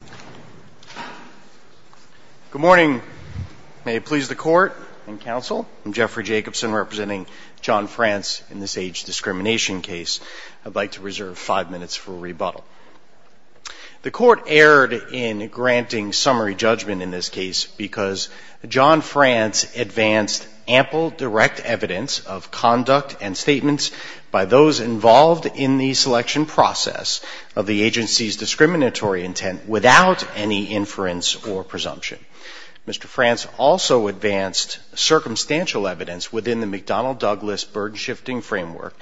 Good morning. May it please the court and counsel, I'm Jeffrey Jacobson representing John France in this age discrimination case. I'd like to reserve five minutes for rebuttal. The court erred in granting summary judgment in this case because John France advanced ample direct evidence of conduct and statements by those involved in the selection process of the agency's discriminatory intent without any inference or presumption. Mr. France also advanced circumstantial evidence within the McDonnell-Douglas burden shifting framework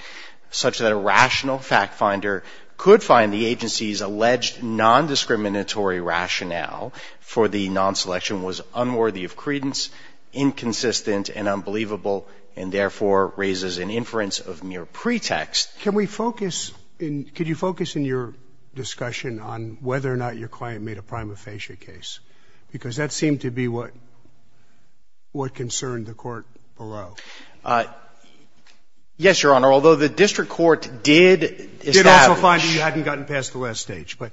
such that a rational fact finder could find the agency's alleged non-discriminatory rationale for the non-selection was unworthy of credence, inconsistent and unbelievable, and therefore raises an inference of mere pretext. Can we focus in, could you focus in your discussion on whether or not your client made a prima facie case? Because that seemed to be what concerned the court below. Yes, Your Honor, although the district court did establish You did also find that you hadn't gotten past the last stage, but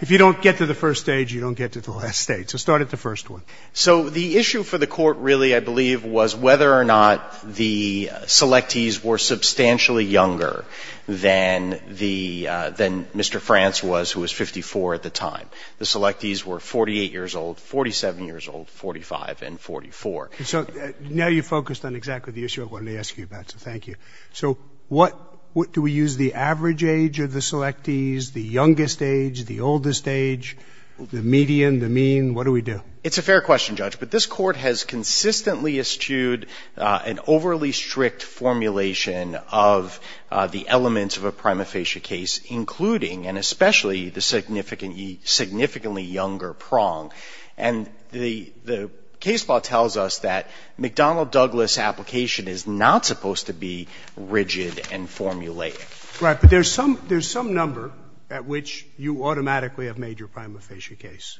if you don't get to the first stage, you don't get to the last stage. So start at the first one. So the issue for the court, really, I believe, was whether or not the selectees were substantially younger than the, than Mr. France was, who was 54 at the time. The selectees were 48 years old, 47 years old, 45, and 44. So now you've focused on exactly the issue I wanted to ask you about, so thank you. So what, do we use the average age of the selectees, the youngest age, the oldest age, the median, the mean? What do we do? It's a fair question, Judge, but this Court has consistently eschewed an overly strict formulation of the elements of a prima facie case, including and especially the significantly younger prong. And the case law tells us that McDonnell-Douglas application is not supposed to be rigid and formulaic. Right. But there's some number at which you automatically have made your prima facie case.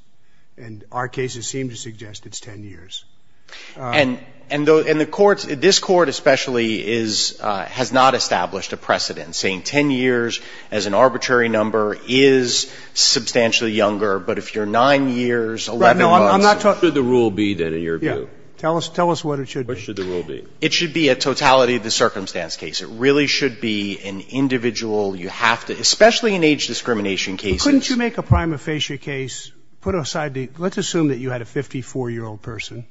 And our cases seem to suggest it's 10 years. And, and the, and the courts, this Court especially is, has not established a precedent saying 10 years as an arbitrary number is substantially younger. But if you're 9 years, 11 months. Right. No, I'm not talking. What should the rule be, then, in your view? Yeah. Tell us, tell us what it should be. What should the rule be? It should be a totality of the circumstance case. It really should be an individual you have to, especially in age discrimination cases. Couldn't you make a prima facie case, put aside the, let's assume that you had a 54-year-old person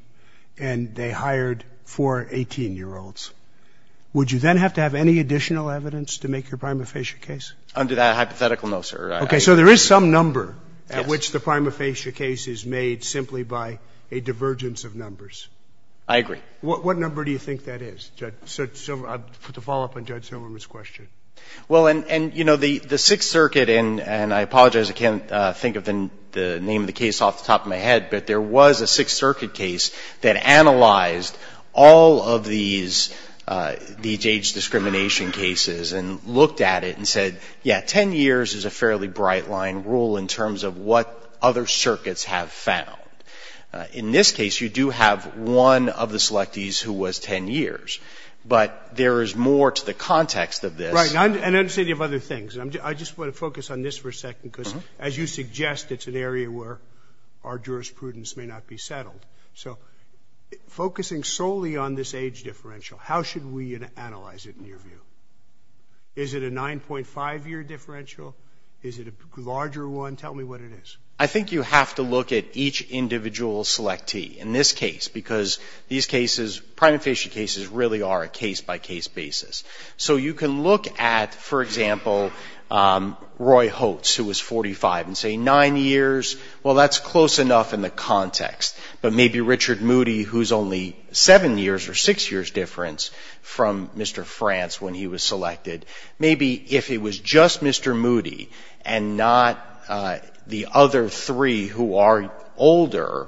and they hired four 18-year-olds. Would you then have to have any additional evidence to make your prima facie case? Under that hypothetical, no, sir. Okay. So there is some number at which the prima facie case is made simply by a divergence of numbers. I agree. What, what number do you think that is, Judge? So I'll put the follow-up on Judge And, you know, the Sixth Circuit, and I apologize, I can't think of the name of the case off the top of my head, but there was a Sixth Circuit case that analyzed all of these, these age discrimination cases and looked at it and said, yeah, 10 years is a fairly bright-line rule in terms of what other circuits have found. In this case, you do have one of the selectees who was 10 years. But there is more to the other things. I just want to focus on this for a second, because as you suggest, it's an area where our jurisprudence may not be settled. So focusing solely on this age differential, how should we analyze it in your view? Is it a 9.5-year differential? Is it a larger one? Tell me what it is. I think you have to look at each individual selectee in this case, because these cases, prima facie cases really are a case-by-case basis. So you can look at, for example, Roy Hotz, who was 45, and say 9 years. Well, that's close enough in the context. But maybe Richard Moody, who's only 7 years or 6 years difference from Mr. France when he was selected. Maybe if it was just Mr. Moody and not the other three who are older,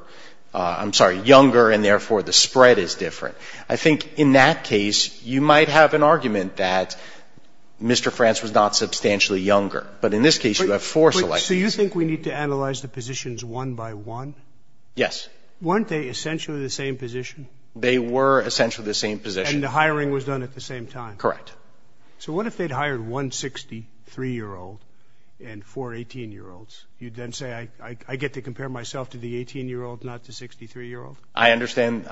I'm sorry, younger, and therefore the spread is different. I think in that case, you might have an argument that Mr. France was not substantially younger. But in this case, you have four selectees. So you think we need to analyze the positions one by one? Yes. Weren't they essentially the same position? They were essentially the same position. And the hiring was done at the same time? Correct. So what if they'd hired one 63-year-old and four 18-year-olds? You'd then say I get to compare myself to the 18-year-old, not the 63-year-old? I understand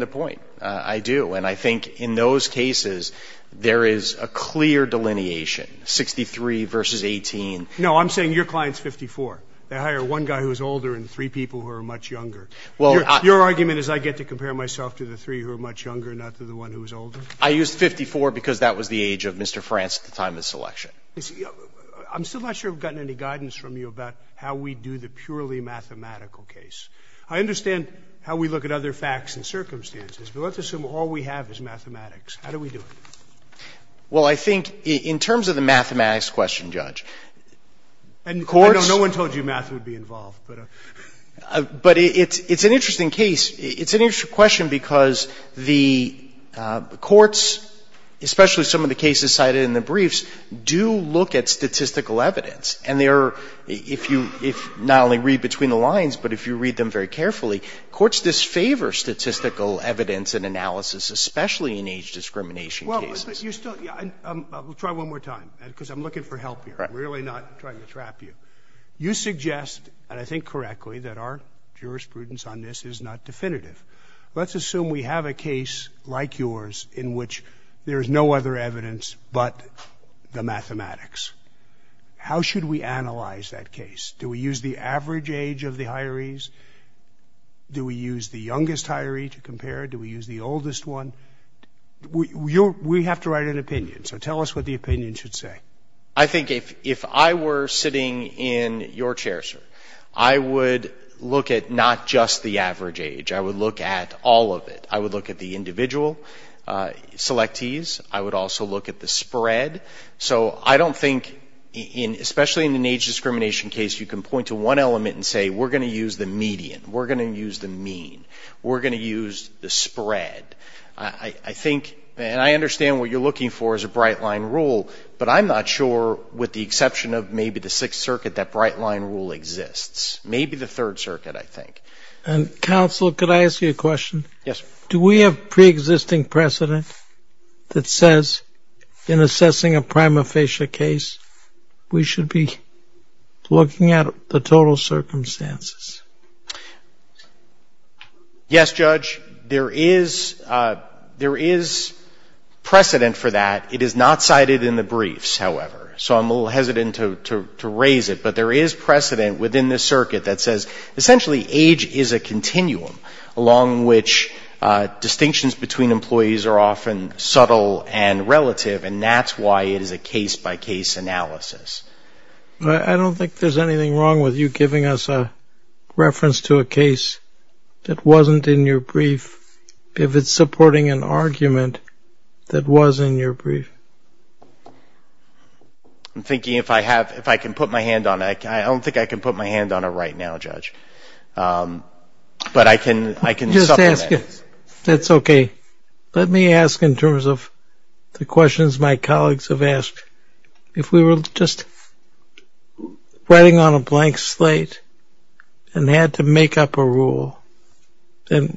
the point. I do. And I think in those cases, there is a clear delineation, 63 versus 18. No, I'm saying your client's 54. They hire one guy who's older and three people who are much younger. Your argument is I get to compare myself to the three who are much younger, not to the one who's older? I used 54 because that was the age of Mr. France at the time of the selection. I'm still not sure I've gotten any guidance from you about how we do the purely mathematical case. I understand how we look at other facts and circumstances, but let's assume all we have is mathematics. How do we do it? Well, I think in terms of the mathematics question, Judge, courts And no one told you math would be involved, but it's an interesting case. It's an interesting question because the courts, especially some of the cases cited in the briefs, do look at statistical evidence. And they're, if you not only read between the lines, but if you read them very carefully, courts disfavor statistical evidence and analysis, especially in age discrimination cases. Well, but you're still We'll try one more time, because I'm looking for help here. I'm really not trying to trap you. You suggest, and I think correctly, that our jurisprudence on this is not definitive. Let's assume we have a case like yours in which there is no other evidence but the mathematics. How should we analyze that case? Do we use the average age of the hirees? Do we use the youngest hiree to compare? Do we use the oldest one? We have to write an opinion. So tell us what the opinion should say. I think if I were sitting in your chair, sir, I would look at not just the average age. I would look at all of it. I would look at the individual selectees. I would also look at the spread. So I don't think, especially in an age discrimination case, you can point to one element and say, we're going to use the median. We're going to use the mean. We're going to use the spread. I think, and I understand what you're looking for is a bright line rule, but I'm not sure, with the exception of maybe the Sixth Circuit, that bright line rule exists. Maybe the Third Circuit, I think. And counsel, could I ask you a question? Yes. Do we have pre-existing precedent that says, in assessing a prima facie case, we should be looking at the total circumstances? Yes, Judge. There is precedent for that. It is not cited in the briefs, however. So I'm a little hesitant to raise it, but there is precedent within this circuit that says, essentially age is a continuum, along which distinctions between employees are often subtle and relative, and that's why it is a case-by-case analysis. I don't think there's anything wrong with you giving us a reference to a case that wasn't in your brief, if it's supporting an argument that was in your brief. I'm thinking if I have, if I can put my hand on it. I don't think I can put my hand on it right now, Judge. But I can supplement. Just ask it. That's okay. Let me ask in terms of the questions my colleagues have asked. If we were just writing on a blank slate and had to make up a rule, and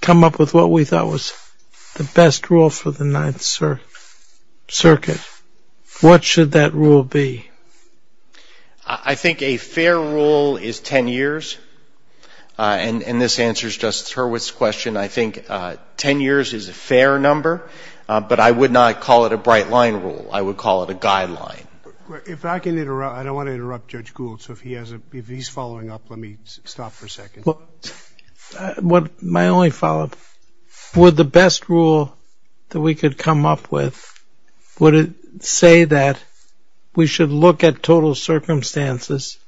come up with what we thought was the best rule for the Ninth Circuit, what should that rule be? I think a fair rule is 10 years, and this answers Justice Hurwitz's question. I think 10 years is a fair number, but I would not call it a bright-line rule. I would call it a guideline. If I can interrupt. I don't want to interrupt Judge Gould, so if he has a, if he's following up, let me stop for a second. My only follow-up. Would the best rule that we could come up with, would it say that we should look at total circumstances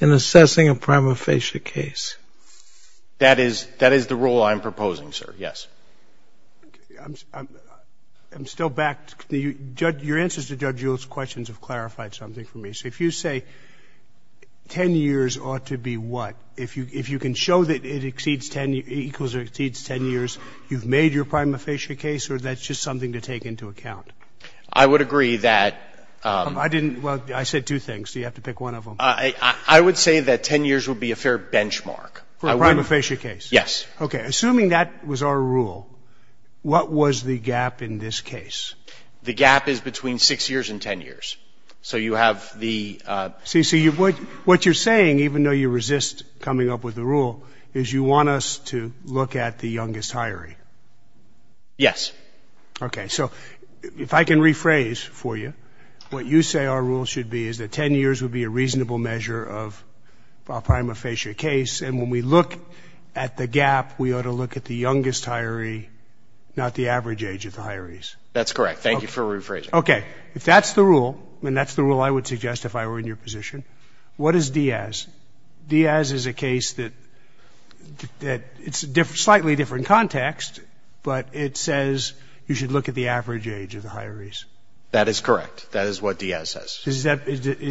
in assessing a prima facie case? That is, that is the rule I'm proposing, sir. Yes. I'm still back. Your answers to Judge Gould's questions have clarified something for me. So if you say 10 years ought to be what? If you can show that it exceeds 10, equals or exceeds 10 years, you've made your prima facie case, or that's just something to take into account? I would agree that I didn't, well, I said two things. Do you have to pick one of them? I would say that 10 years would be a fair benchmark. For a prima facie case? Yes. Okay. Assuming that was our rule, what was the gap in this case? The gap is between 6 years and 10 years. So you have the See, see, what you're saying, even though you resist coming up with the rule, is you want us to look at the youngest hiring? Yes. Okay. So if I can rephrase for you, what you say our rule should be is that 10 years would be a reasonable measure of our prima facie case. And when we look at the gap, we ought to look at the youngest hiree, not the average age of the hirees. That's correct. Thank you for rephrasing. Okay. If that's the rule, and that's the rule I would suggest if I were in your position, what is Diaz? Diaz is a case that, that it's a different, slightly different context, but it says you should look at the average age of the hirees. That is correct. That is what Diaz says. Is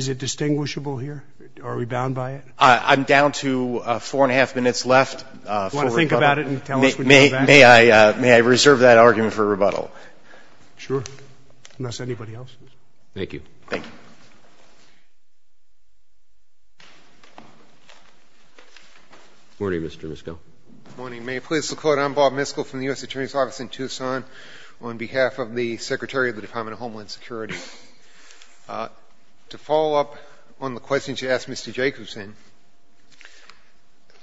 it distinguishable here? Are we bound by it? I'm down to four and a half minutes left for rebuttal. Do you want to think about it and tell us when you go back? May I reserve that argument for rebuttal? Sure. Unless anybody else is. Thank you. Thank you. Good morning, Mr. Miskell. Good morning. May it please the Court, I'm Bob Miskell from the U.S. Attorney's Office in Tucson on behalf of the Secretary of the Department of Homeland Security. To follow up on the question you asked Mr. Jacobson,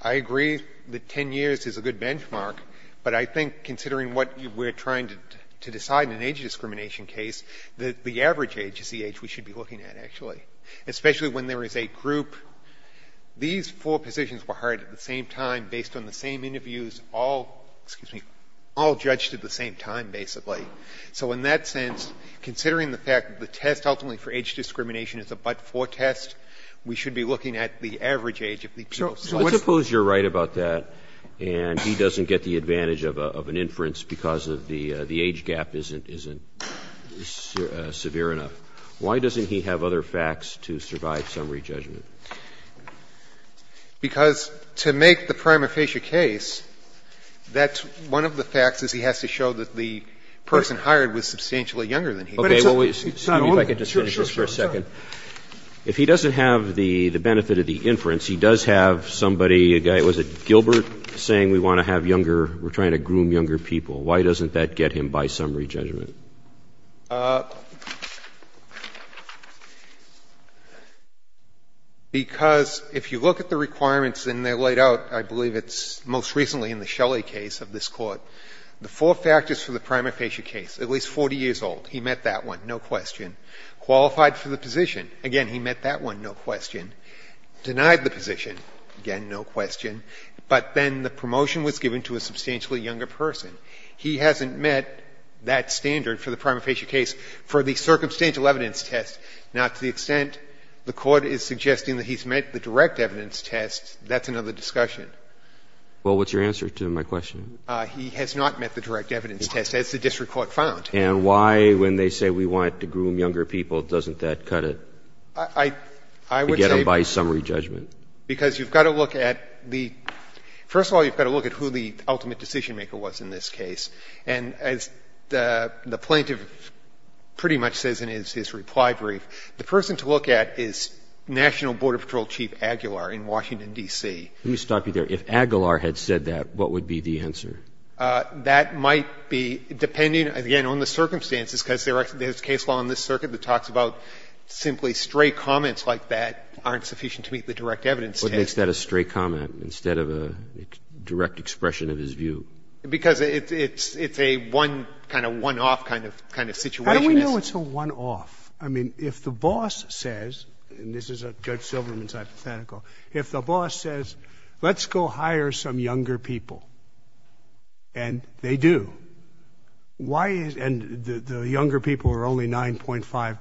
I agree that 10 years is a good benchmark, but I think considering what we're trying to decide in an age discrimination case, that the average age is the age we should be looking at, actually, especially when there is a group. These four positions were hired at the same time, based on the same interviews, all, excuse me, tested at the same time, basically. So in that sense, considering the fact that the test ultimately for age discrimination is a but-for test, we should be looking at the average age of the people. So let's suppose you're right about that, and he doesn't get the advantage of an inference because of the age gap isn't severe enough. Why doesn't he have other facts to survive summary judgment? Because to make the prima facie case, that's one of the facts is he has to show that the person hired was substantially younger than him. But it's not only the age gap. Excuse me if I could just finish this for a second. Sure, sure. If he doesn't have the benefit of the inference, he does have somebody, a guy, was it Gilbert, saying we want to have younger, we're trying to groom younger people, why doesn't that get him by summary judgment? Because if you look at the requirements and they're laid out, I believe it's most recently in the Shelley case of this Court, the four factors for the prima facie case, at least 40 years old, he met that one, no question. Qualified for the position, again, he met that one, no question. Denied the position, again, no question. But then the promotion was given to a substantially younger person. He hasn't met that standard for the prima facie case for the circumstantial evidence test. Now, to the extent the Court is suggesting that he's met the direct evidence test, that's another discussion. Well, what's your answer to my question? He has not met the direct evidence test, as the district court found. And why, when they say we want to groom younger people, doesn't that cut it? I would say by summary judgment. Because you've got to look at the – first of all, you've got to look at who the ultimate decision-maker was in this case. And as the plaintiff pretty much says in his reply brief, the person to look at is National Border Patrol Chief Aguilar in Washington, D.C. Let me stop you there. If Aguilar had said that, what would be the answer? That might be, depending, again, on the circumstances, because there's case law in this circuit that talks about simply stray comments like that aren't sufficient to meet the direct evidence test. He makes that a stray comment instead of a direct expression of his view. Because it's a one-off kind of situation. How do we know it's a one-off? I mean, if the boss says – and this is Judge Silverman's hypothetical – if the boss says, let's go hire some younger people, and they do, why is – and the younger people are only 9.5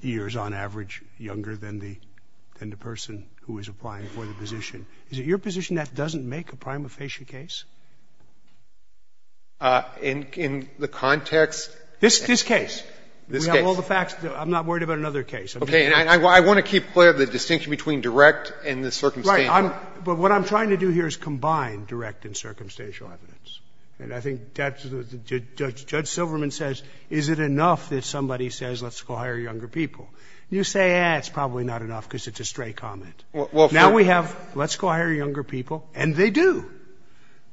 years, on average, younger than the person who is applying for the position, is it your position that doesn't make a prima facie case? In the context? This case. This case. We have all the facts. I'm not worried about another case. Okay. And I want to keep clear of the distinction between direct and the circumstantial. Right. But what I'm trying to do here is combine direct and circumstantial evidence. And I think that's what Judge Silverman says, is it enough that somebody says, let's go hire younger people. You say, eh, it's probably not enough because it's a stray comment. Now we have, let's go hire younger people, and they do.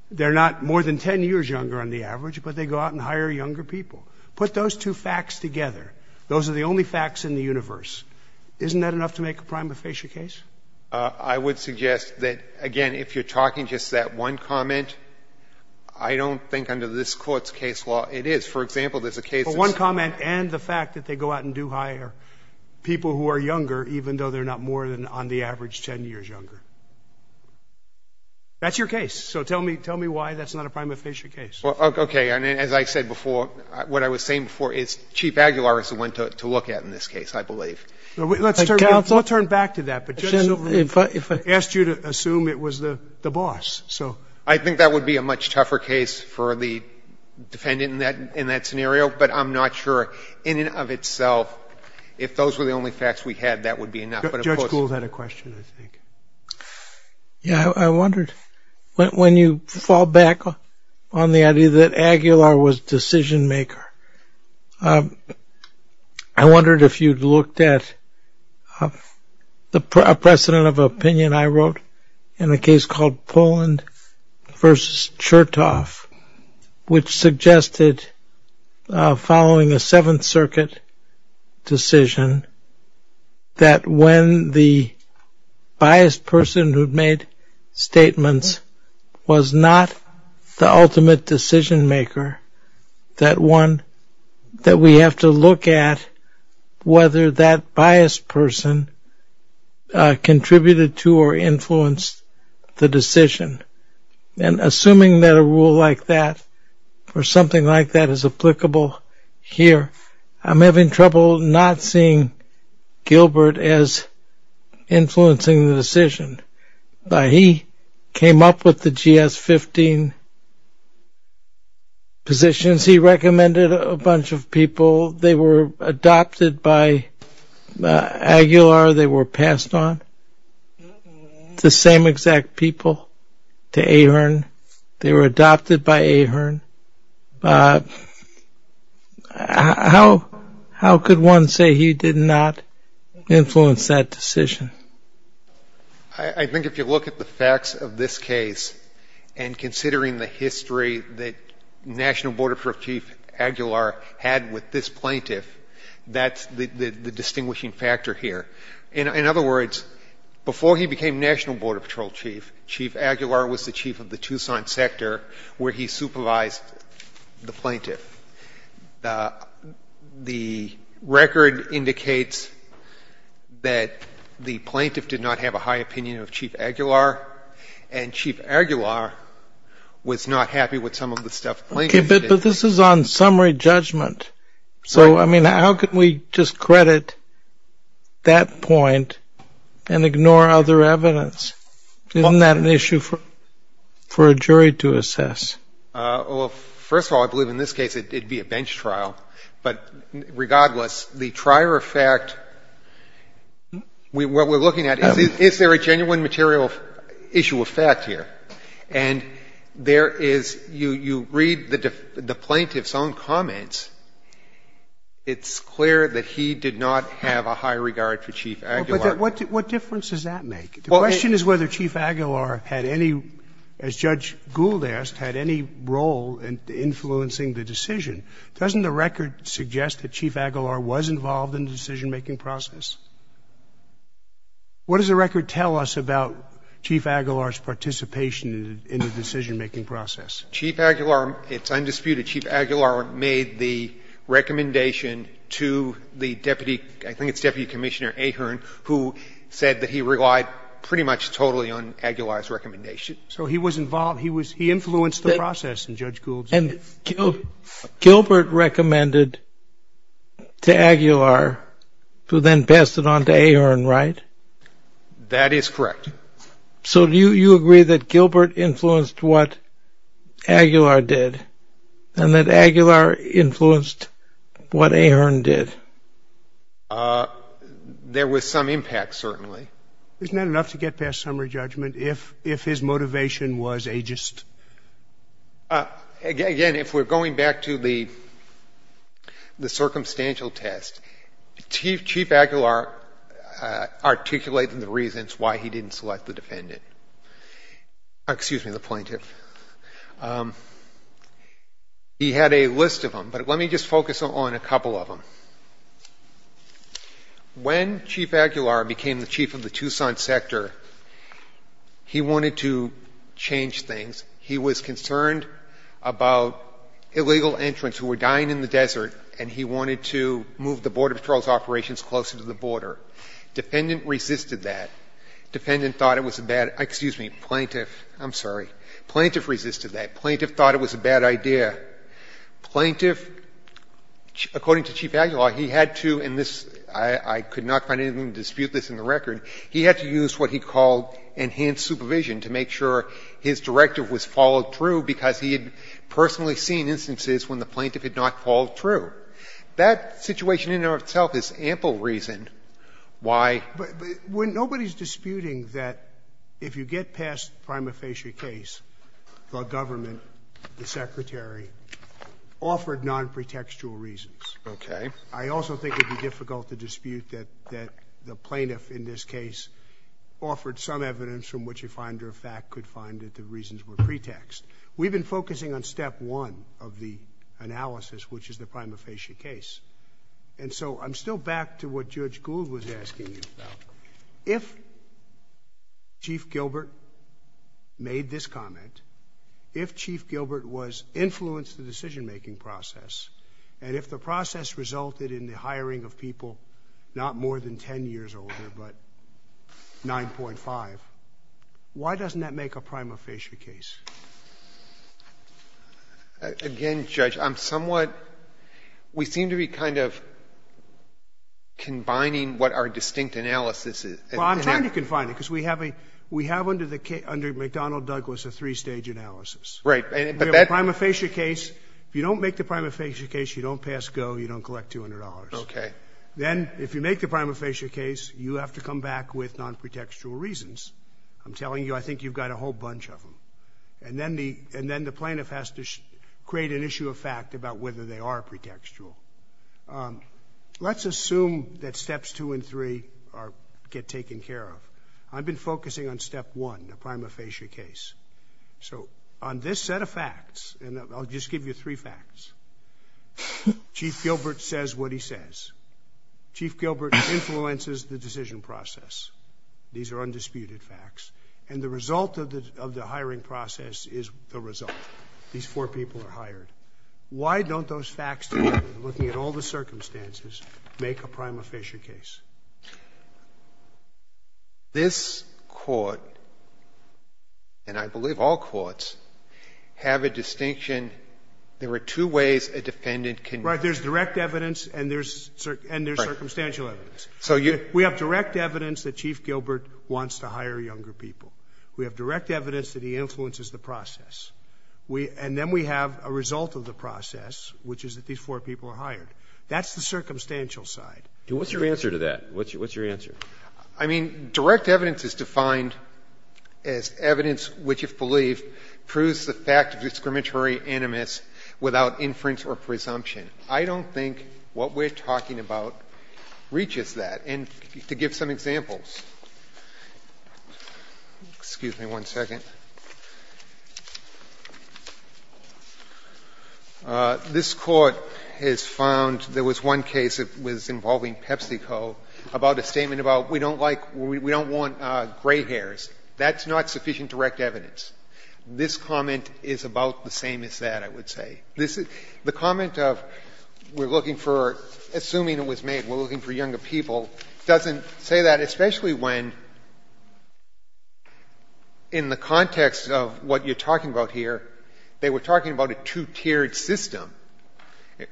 They're not more than 10 years younger on the average, but they go out and hire younger people. Put those two facts together. Those are the only facts in the universe. Isn't that enough to make a prima facie case? I would suggest that, again, if you're talking just that one comment, I don't think under this Court's case law it is. For example, there's a case that's – But one comment and the fact that they go out and do hire people who are younger, even though they're not more than, on the average, 10 years younger. That's your case. So tell me why that's not a prima facie case. Okay. And as I said before, what I was saying before is Chief Aguilar is the one to look at in this case, I believe. Let's turn back to that. But Judge Silverman asked you to assume it was the boss. So I think that would be a much tougher case for the defendant in that scenario. But I'm not sure in and of itself if those were the only facts we had, that would be enough. But of course – Judge Gould had a question, I think. Yeah, I wondered, when you fall back on the idea that Aguilar was decision maker, I wondered if you'd looked at a precedent of opinion I wrote in a case called Poland versus Chertoff, which suggested, following a Seventh Circuit decision, that when the biased person who'd made statements was not the ultimate decision maker, that we have to look at whether that biased person contributed to or influenced the decision. And assuming that a rule like that or something like that is applicable here, I'm having trouble not seeing Gilbert as influencing the decision. He came up with the GS-15 positions. He recommended a bunch of people. They were adopted by Aguilar. They were passed on. It's the same exact people to Ahearn. They were adopted by Ahearn. How could one say he did not influence that decision? I think if you look at the facts of this case and considering the history that National Board of Prosecutors Aguilar had with this plaintiff, that's the distinguishing factor here. In other words, before he became National Board of Patrol Chief, Chief Aguilar was the chief of the Tucson sector where he supervised the plaintiff. The record indicates that the plaintiff did not have a high opinion of Chief Aguilar. And Chief Aguilar was not happy with some of the stuff the plaintiff did. But this is on summary judgment. So I mean, how could we just credit that point and ignore other evidence? Isn't that an issue for a jury to assess? Well, first of all, I believe in this case it'd be a bench trial. But regardless, the trier of fact, what we're looking at, is there a genuine material issue of fact here? And there is, you read the plaintiff's own comments, it's clear that he did not have a high regard for Chief Aguilar. But what difference does that make? The question is whether Chief Aguilar had any, as Judge Gould asked, had any role in influencing the decision. Doesn't the record suggest that Chief Aguilar was involved in the decision-making process? What does the record tell us about Chief Aguilar's participation in the decision-making process? Chief Aguilar, it's undisputed, Chief Aguilar made the recommendation to the deputy, I think it's Deputy Commissioner Ahearn, who said that he relied pretty much totally on Aguilar's recommendation. So he was involved, he influenced the process in Judge Gould's opinion. Right? That is correct. So do you agree that Gilbert influenced what Aguilar did, and that Aguilar influenced what Ahearn did? There was some impact, certainly. Isn't that enough to get past summary judgment, if his motivation was ageist? Again, if we're going back to the circumstantial test, Chief Aguilar articulated the reasons why he didn't select the defendant. Excuse me, the plaintiff. He had a list of them, but let me just focus on a couple of them. When Chief Aguilar became the chief of the Tucson sector, he wanted to change things. He was concerned about illegal entrants who were dying in the desert, and he wanted to move the Border Patrol's operations closer to the border. Defendant resisted that. Defendant thought it was a bad, excuse me, plaintiff, I'm sorry. Plaintiff resisted that. Plaintiff thought it was a bad idea. Plaintiff, according to Chief Aguilar, he had to, and this, I could not find anything to dispute this in the record. He had to use what he called enhanced supervision to make sure his directive was followed through because he had personally seen instances when the plaintiff did not follow through. That situation in and of itself is ample reason why. But when nobody's disputing that if you get past prima facie case, the government, the secretary, offered non-pretextual reasons. Okay. I also think it would be difficult to dispute that the plaintiff in this case offered some evidence from which a finder of fact could find that the reasons were pretext. We've been focusing on step one of the analysis, which is the prima facie case. And so I'm still back to what Judge Gould was asking you about. If Chief Gilbert made this comment, if Chief Gilbert was influenced the decision making process, and if the process resulted in the hiring of people not more than ten years older, but 9.5, why doesn't that make a prima facie case? Again, Judge, I'm somewhat — we seem to be kind of combining what our distinct analysis is. Well, I'm trying to combine it, because we have a — we have under the — under McDonnell Douglas a three-stage analysis. Right. But that — We have a prima facie case. If you don't make the prima facie case, you don't pass GO. You don't collect $200. Okay. Then, if you make the prima facie case, you have to come back with non-pretextual reasons. I'm telling you, I think you've got a whole bunch of them. And then the — and then the plaintiff has to create an issue of fact about whether they are pretextual. Let's assume that steps two and three are — get taken care of. I've been focusing on step one, the prima facie case. So on this set of facts — and I'll just give you three facts. Chief Gilbert says what he says. Chief Gilbert influences the decision process. These are undisputed facts. And the result of the hiring process is the result. These four people are hired. Why don't those facts together, looking at all the circumstances, make a prima facie case? This Court, and I believe all courts, have a distinction. And there are two ways a defendant can — Right. There's direct evidence and there's — and there's circumstantial evidence. So you — We have direct evidence that Chief Gilbert wants to hire younger people. We have direct evidence that he influences the process. We — and then we have a result of the process, which is that these four people are hired. That's the circumstantial side. What's your answer to that? What's your answer? I mean, direct evidence is defined as evidence which, if believed, proves the fact of discriminatory animus without inference or presumption. I don't think what we're talking about reaches that. And to give some examples, excuse me one second. This Court has found there was one case that was involving PepsiCo about a statement about we don't like — we don't want gray hairs. That's not sufficient direct evidence. This comment is about the same as that, I would say. This is — the comment of we're looking for — assuming it was made, we're looking for younger people doesn't say that, especially when, in the context of what you're talking about here, they were talking about a two-tiered system.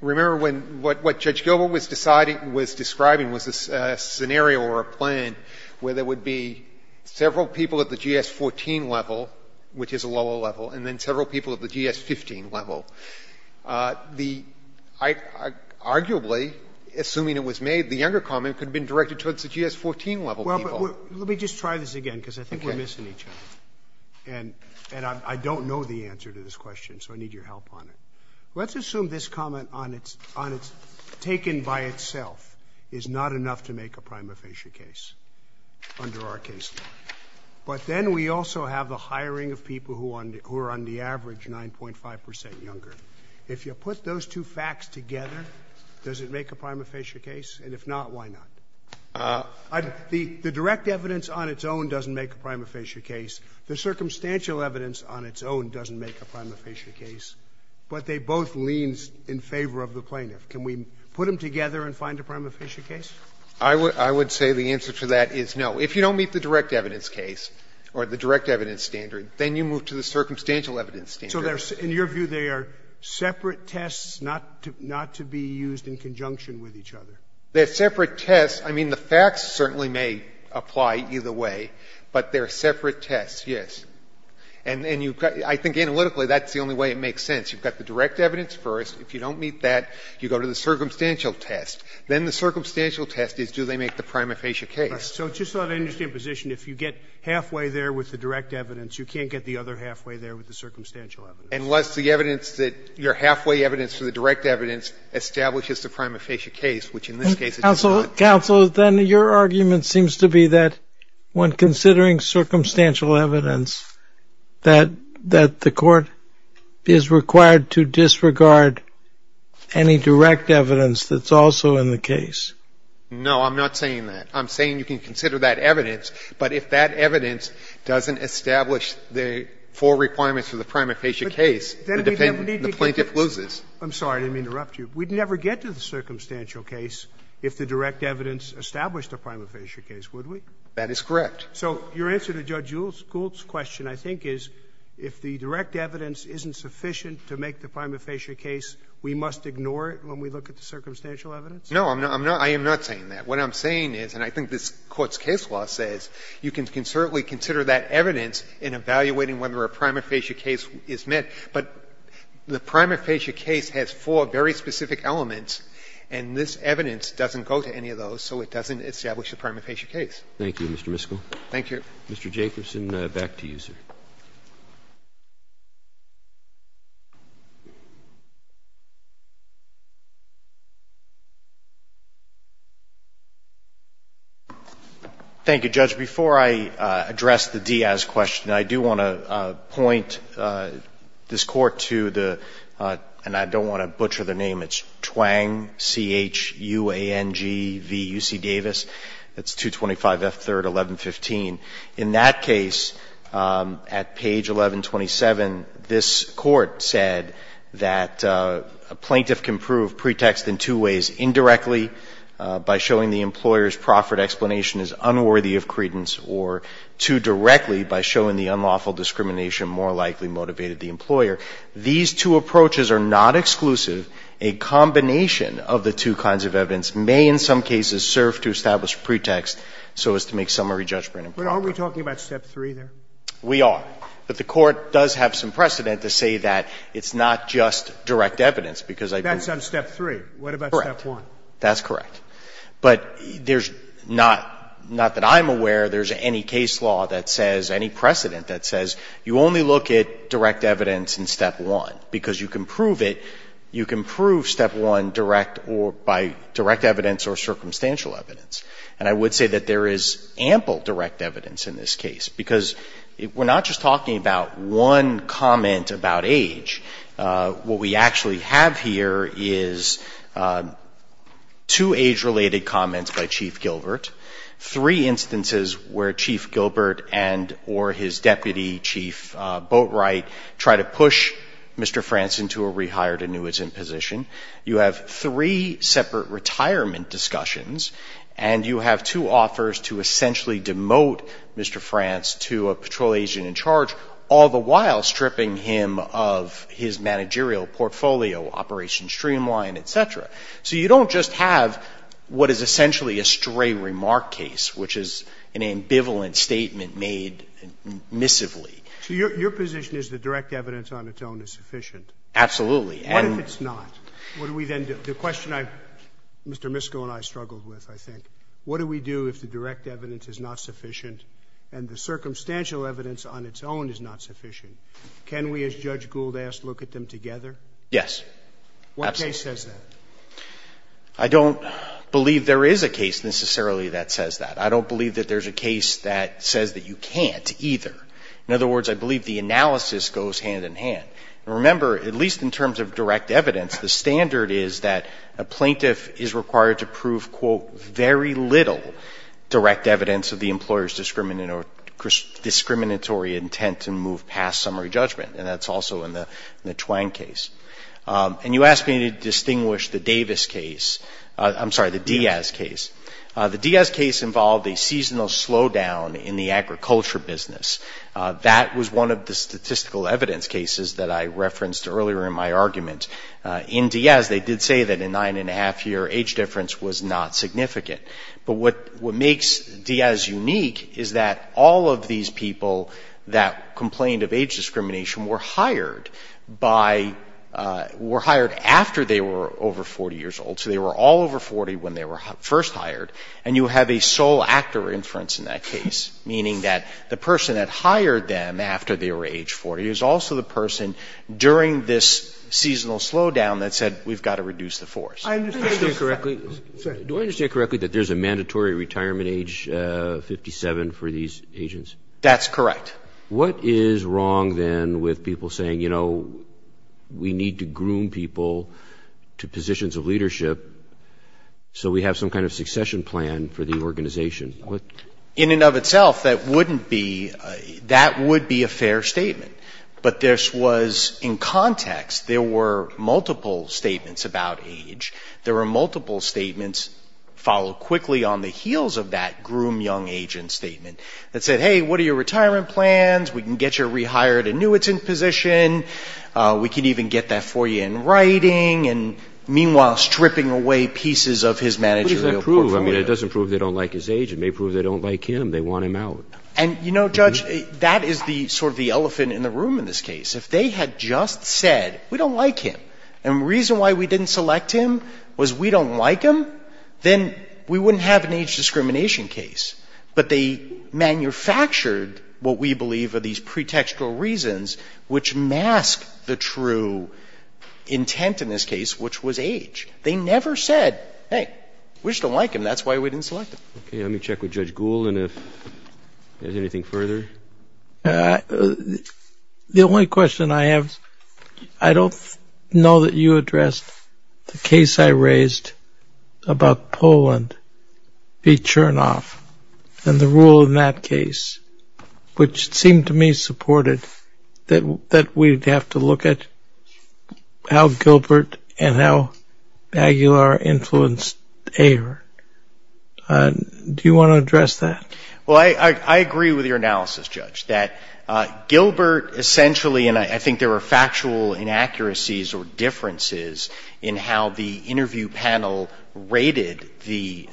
Remember when — what Judge Gilbert was deciding — was describing was a scenario or a plan where there would be several people at the GS-14 level, which is a lower level, and then several people at the GS-15 level. The — arguably, assuming it was made, the younger comment could have been directed towards the GS-14 level people. Well, but let me just try this again, because I think we're missing each other. Okay. And I don't know the answer to this question, so I need your help on it. Let's assume this comment on its — on its taken by itself is not enough to make a prima facie case under our case law. But then we also have the hiring of people who are on the average 9.5 percent younger. If you put those two facts together, does it make a prima facie case? And if not, why not? The direct evidence on its own doesn't make a prima facie case. The circumstantial evidence on its own doesn't make a prima facie case. But they both leans in favor of the plaintiff. Can we put them together and find a prima facie case? I would — I would say the answer to that is no. If you don't meet the direct evidence case or the direct evidence standard, then you move to the circumstantial evidence standard. So there's — in your view, they are separate tests not to — not to be used in conjunction with each other? They're separate tests. I mean, the facts certainly may apply either way, but they're separate tests, yes. And you've got — I think analytically, that's the only way it makes sense. You've got the direct evidence first. If you don't meet that, you go to the circumstantial test. Then the circumstantial test is, do they make the prima facie case? So it's just not an interesting position. If you get halfway there with the direct evidence, you can't get the other halfway there with the circumstantial evidence. Unless the evidence that — your halfway evidence for the direct evidence establishes the prima facie case, which in this case it does not. Counsel, then your argument seems to be that when considering circumstantial evidence, that — that the Court is required to disregard any direct evidence that's also in the case. No, I'm not saying that. I'm saying you can consider that evidence, but if that evidence doesn't establish the four requirements for the prima facie case, the defendant — the plaintiff loses. I'm sorry to interrupt you. We'd never get to the circumstantial case if the direct evidence established a prima facie case, would we? That is correct. So your answer to Judge Gould's question, I think, is if the direct evidence isn't sufficient to make the prima facie case, we must ignore it when we look at the circumstantial evidence? No, I'm not — I am not saying that. What I'm saying is, and I think this Court's case law says, you can certainly consider that evidence in evaluating whether a prima facie case is met, but the prima facie case has four very specific elements, and this evidence doesn't go to any of those, so it doesn't establish a prima facie case. Thank you, Mr. Miskell. Thank you. Mr. Jacobson, back to you, sir. Thank you, Judge. Before I address the Diaz question, I do want to point this Court to the — and I don't want to butcher the name — it's Twang, C-H-U-A-N-G-V-U-C Davis. That's 225 F. 3rd, 1115. In that case, at page 1127, this Court said that a plaintiff can prove pretext in two ways, indirectly by showing the employer's proffered explanation is unworthy of credence, or two, directly by showing the unlawful discrimination more likely motivated the employer. These two approaches are not exclusive. A combination of the two kinds of evidence may in some cases serve to establish pretext so as to make summary judgment. But aren't we talking about Step 3 there? We are. But the Court does have some precedent to say that it's not just direct evidence, because I think — That's on Step 3. What about Step 1? Correct. That's correct. But there's not — not that I'm aware there's any case law that says, any precedent that says you only look at direct evidence in Step 1, because you can prove it. You can prove Step 1 direct or by direct evidence or circumstantial evidence. And I would say that there is ample direct evidence in this case, because we're not just talking about one comment about age. What we actually have here is two age-related comments by Chief Gilbert, three instances where Chief Gilbert and or his deputy, Chief Boatwright, try to push Mr. Franson to a rehired annuitant position. You have three separate retirement discussions, and you have two offers to essentially demote Mr. Frans to a patrol agent in charge, all the while stripping him of his managerial portfolio, Operation Streamline, et cetera. So you don't just have what is essentially a stray remark case, which is an ambivalent statement made miscively. So your position is that direct evidence on its own is sufficient? Absolutely. What if it's not? What do we then do? The question I've Mr. Misko and I struggled with, I think. What do we do if the direct evidence is not sufficient and the circumstantial evidence on its own is not sufficient? Can we, as Judge Gould asked, look at them together? Yes. Absolutely. What case says that? I don't believe there is a case necessarily that says that. I don't believe that there's a case that says that you can't either. In other words, I believe the analysis goes hand in hand. Remember, at least in terms of direct evidence, the standard is that a plaintiff is required to prove, quote, very little direct evidence of the employer's discriminatory intent to move past summary judgment. And that's also in the Twang case. And you asked me to distinguish the Davis case. I'm sorry, the Diaz case. The Diaz case involved a seasonal slowdown in the agriculture business. That was one of the statistical evidence cases that I referenced earlier in my argument. In Diaz, they did say that a nine and a half year age difference was not significant. But what makes Diaz unique is that all of these people that complained of age discrimination were hired by, were hired after they were over 40 years old. So they were all over 40 when they were first hired. And you have a sole actor inference in that case. Meaning that the person that hired them after they were age 40 is also the person during this seasonal slowdown that said, we've got to reduce the force. I understand correctly, do I understand correctly that there's a mandatory retirement age of 57 for these agents? That's correct. What is wrong then with people saying, you know, we need to groom people to positions of leadership so we have some kind of succession plan for the organization? In and of itself, that wouldn't be, that would be a fair statement. But this was in context. There were multiple statements about age. There were multiple statements followed quickly on the heels of that groom young agent statement that said, hey, what are your retirement plans? We can get you a rehired annuitant position. We can even get that for you in writing. And meanwhile, stripping away pieces of his managerial portfolio. What does that prove? I mean, it doesn't prove they don't like his age. It may prove they don't like him. They want him out. And, you know, Judge, that is the sort of the elephant in the room in this case. If they had just said, we don't like him, and the reason why we didn't select him was we don't like him, then we wouldn't have an age discrimination case. But they manufactured what we believe are these pretextual reasons which mask the true intent in this case, which was age. They never said, hey, we just don't like him. That's why we didn't select him. Okay. Let me check with Judge Gould and if there's anything further. The only question I have, I don't know that you addressed the case I raised about Poland v. Chernoff and the rule in that case, which seemed to me supported that we'd have to look at how Gilbert and how Aguilar influenced Ayer. Do you want to address that? Well, I agree with your analysis, Judge, that Gilbert essentially, and I think there were factual inaccuracies or differences in how the interview panel rated the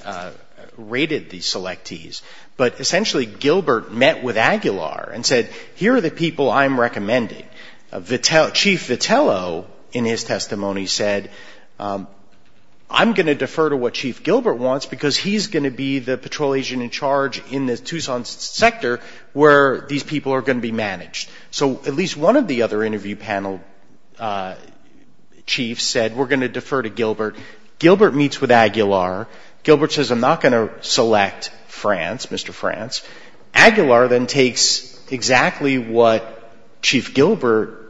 selectees, but essentially Gilbert met with Aguilar and said, here are the people I'm recommending. Chief Vitello in his testimony said, I'm going to defer to what Chief Gilbert wants because he's going to be the patrol agent in charge in the Tucson sector where these people are going to be managed. So at least one of the other interview panel chiefs said, we're going to defer to Gilbert. Gilbert meets with Aguilar. Gilbert says, I'm not going to select France, Mr. France. Aguilar then takes exactly what Chief Gilbert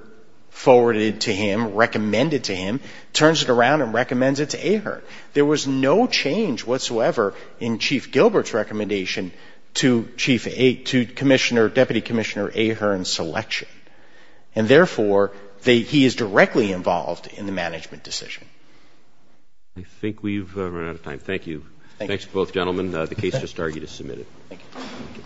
forwarded to him, recommended to him, turns it around and recommends it to Ahearn. There was no change whatsoever in Chief Gilbert's recommendation to Deputy Commissioner Ahearn's selection. And therefore, he is directly involved in the management decision. I think we've run out of time. Thank you. Thanks to both gentlemen. The case has started. You can submit it. Thank you.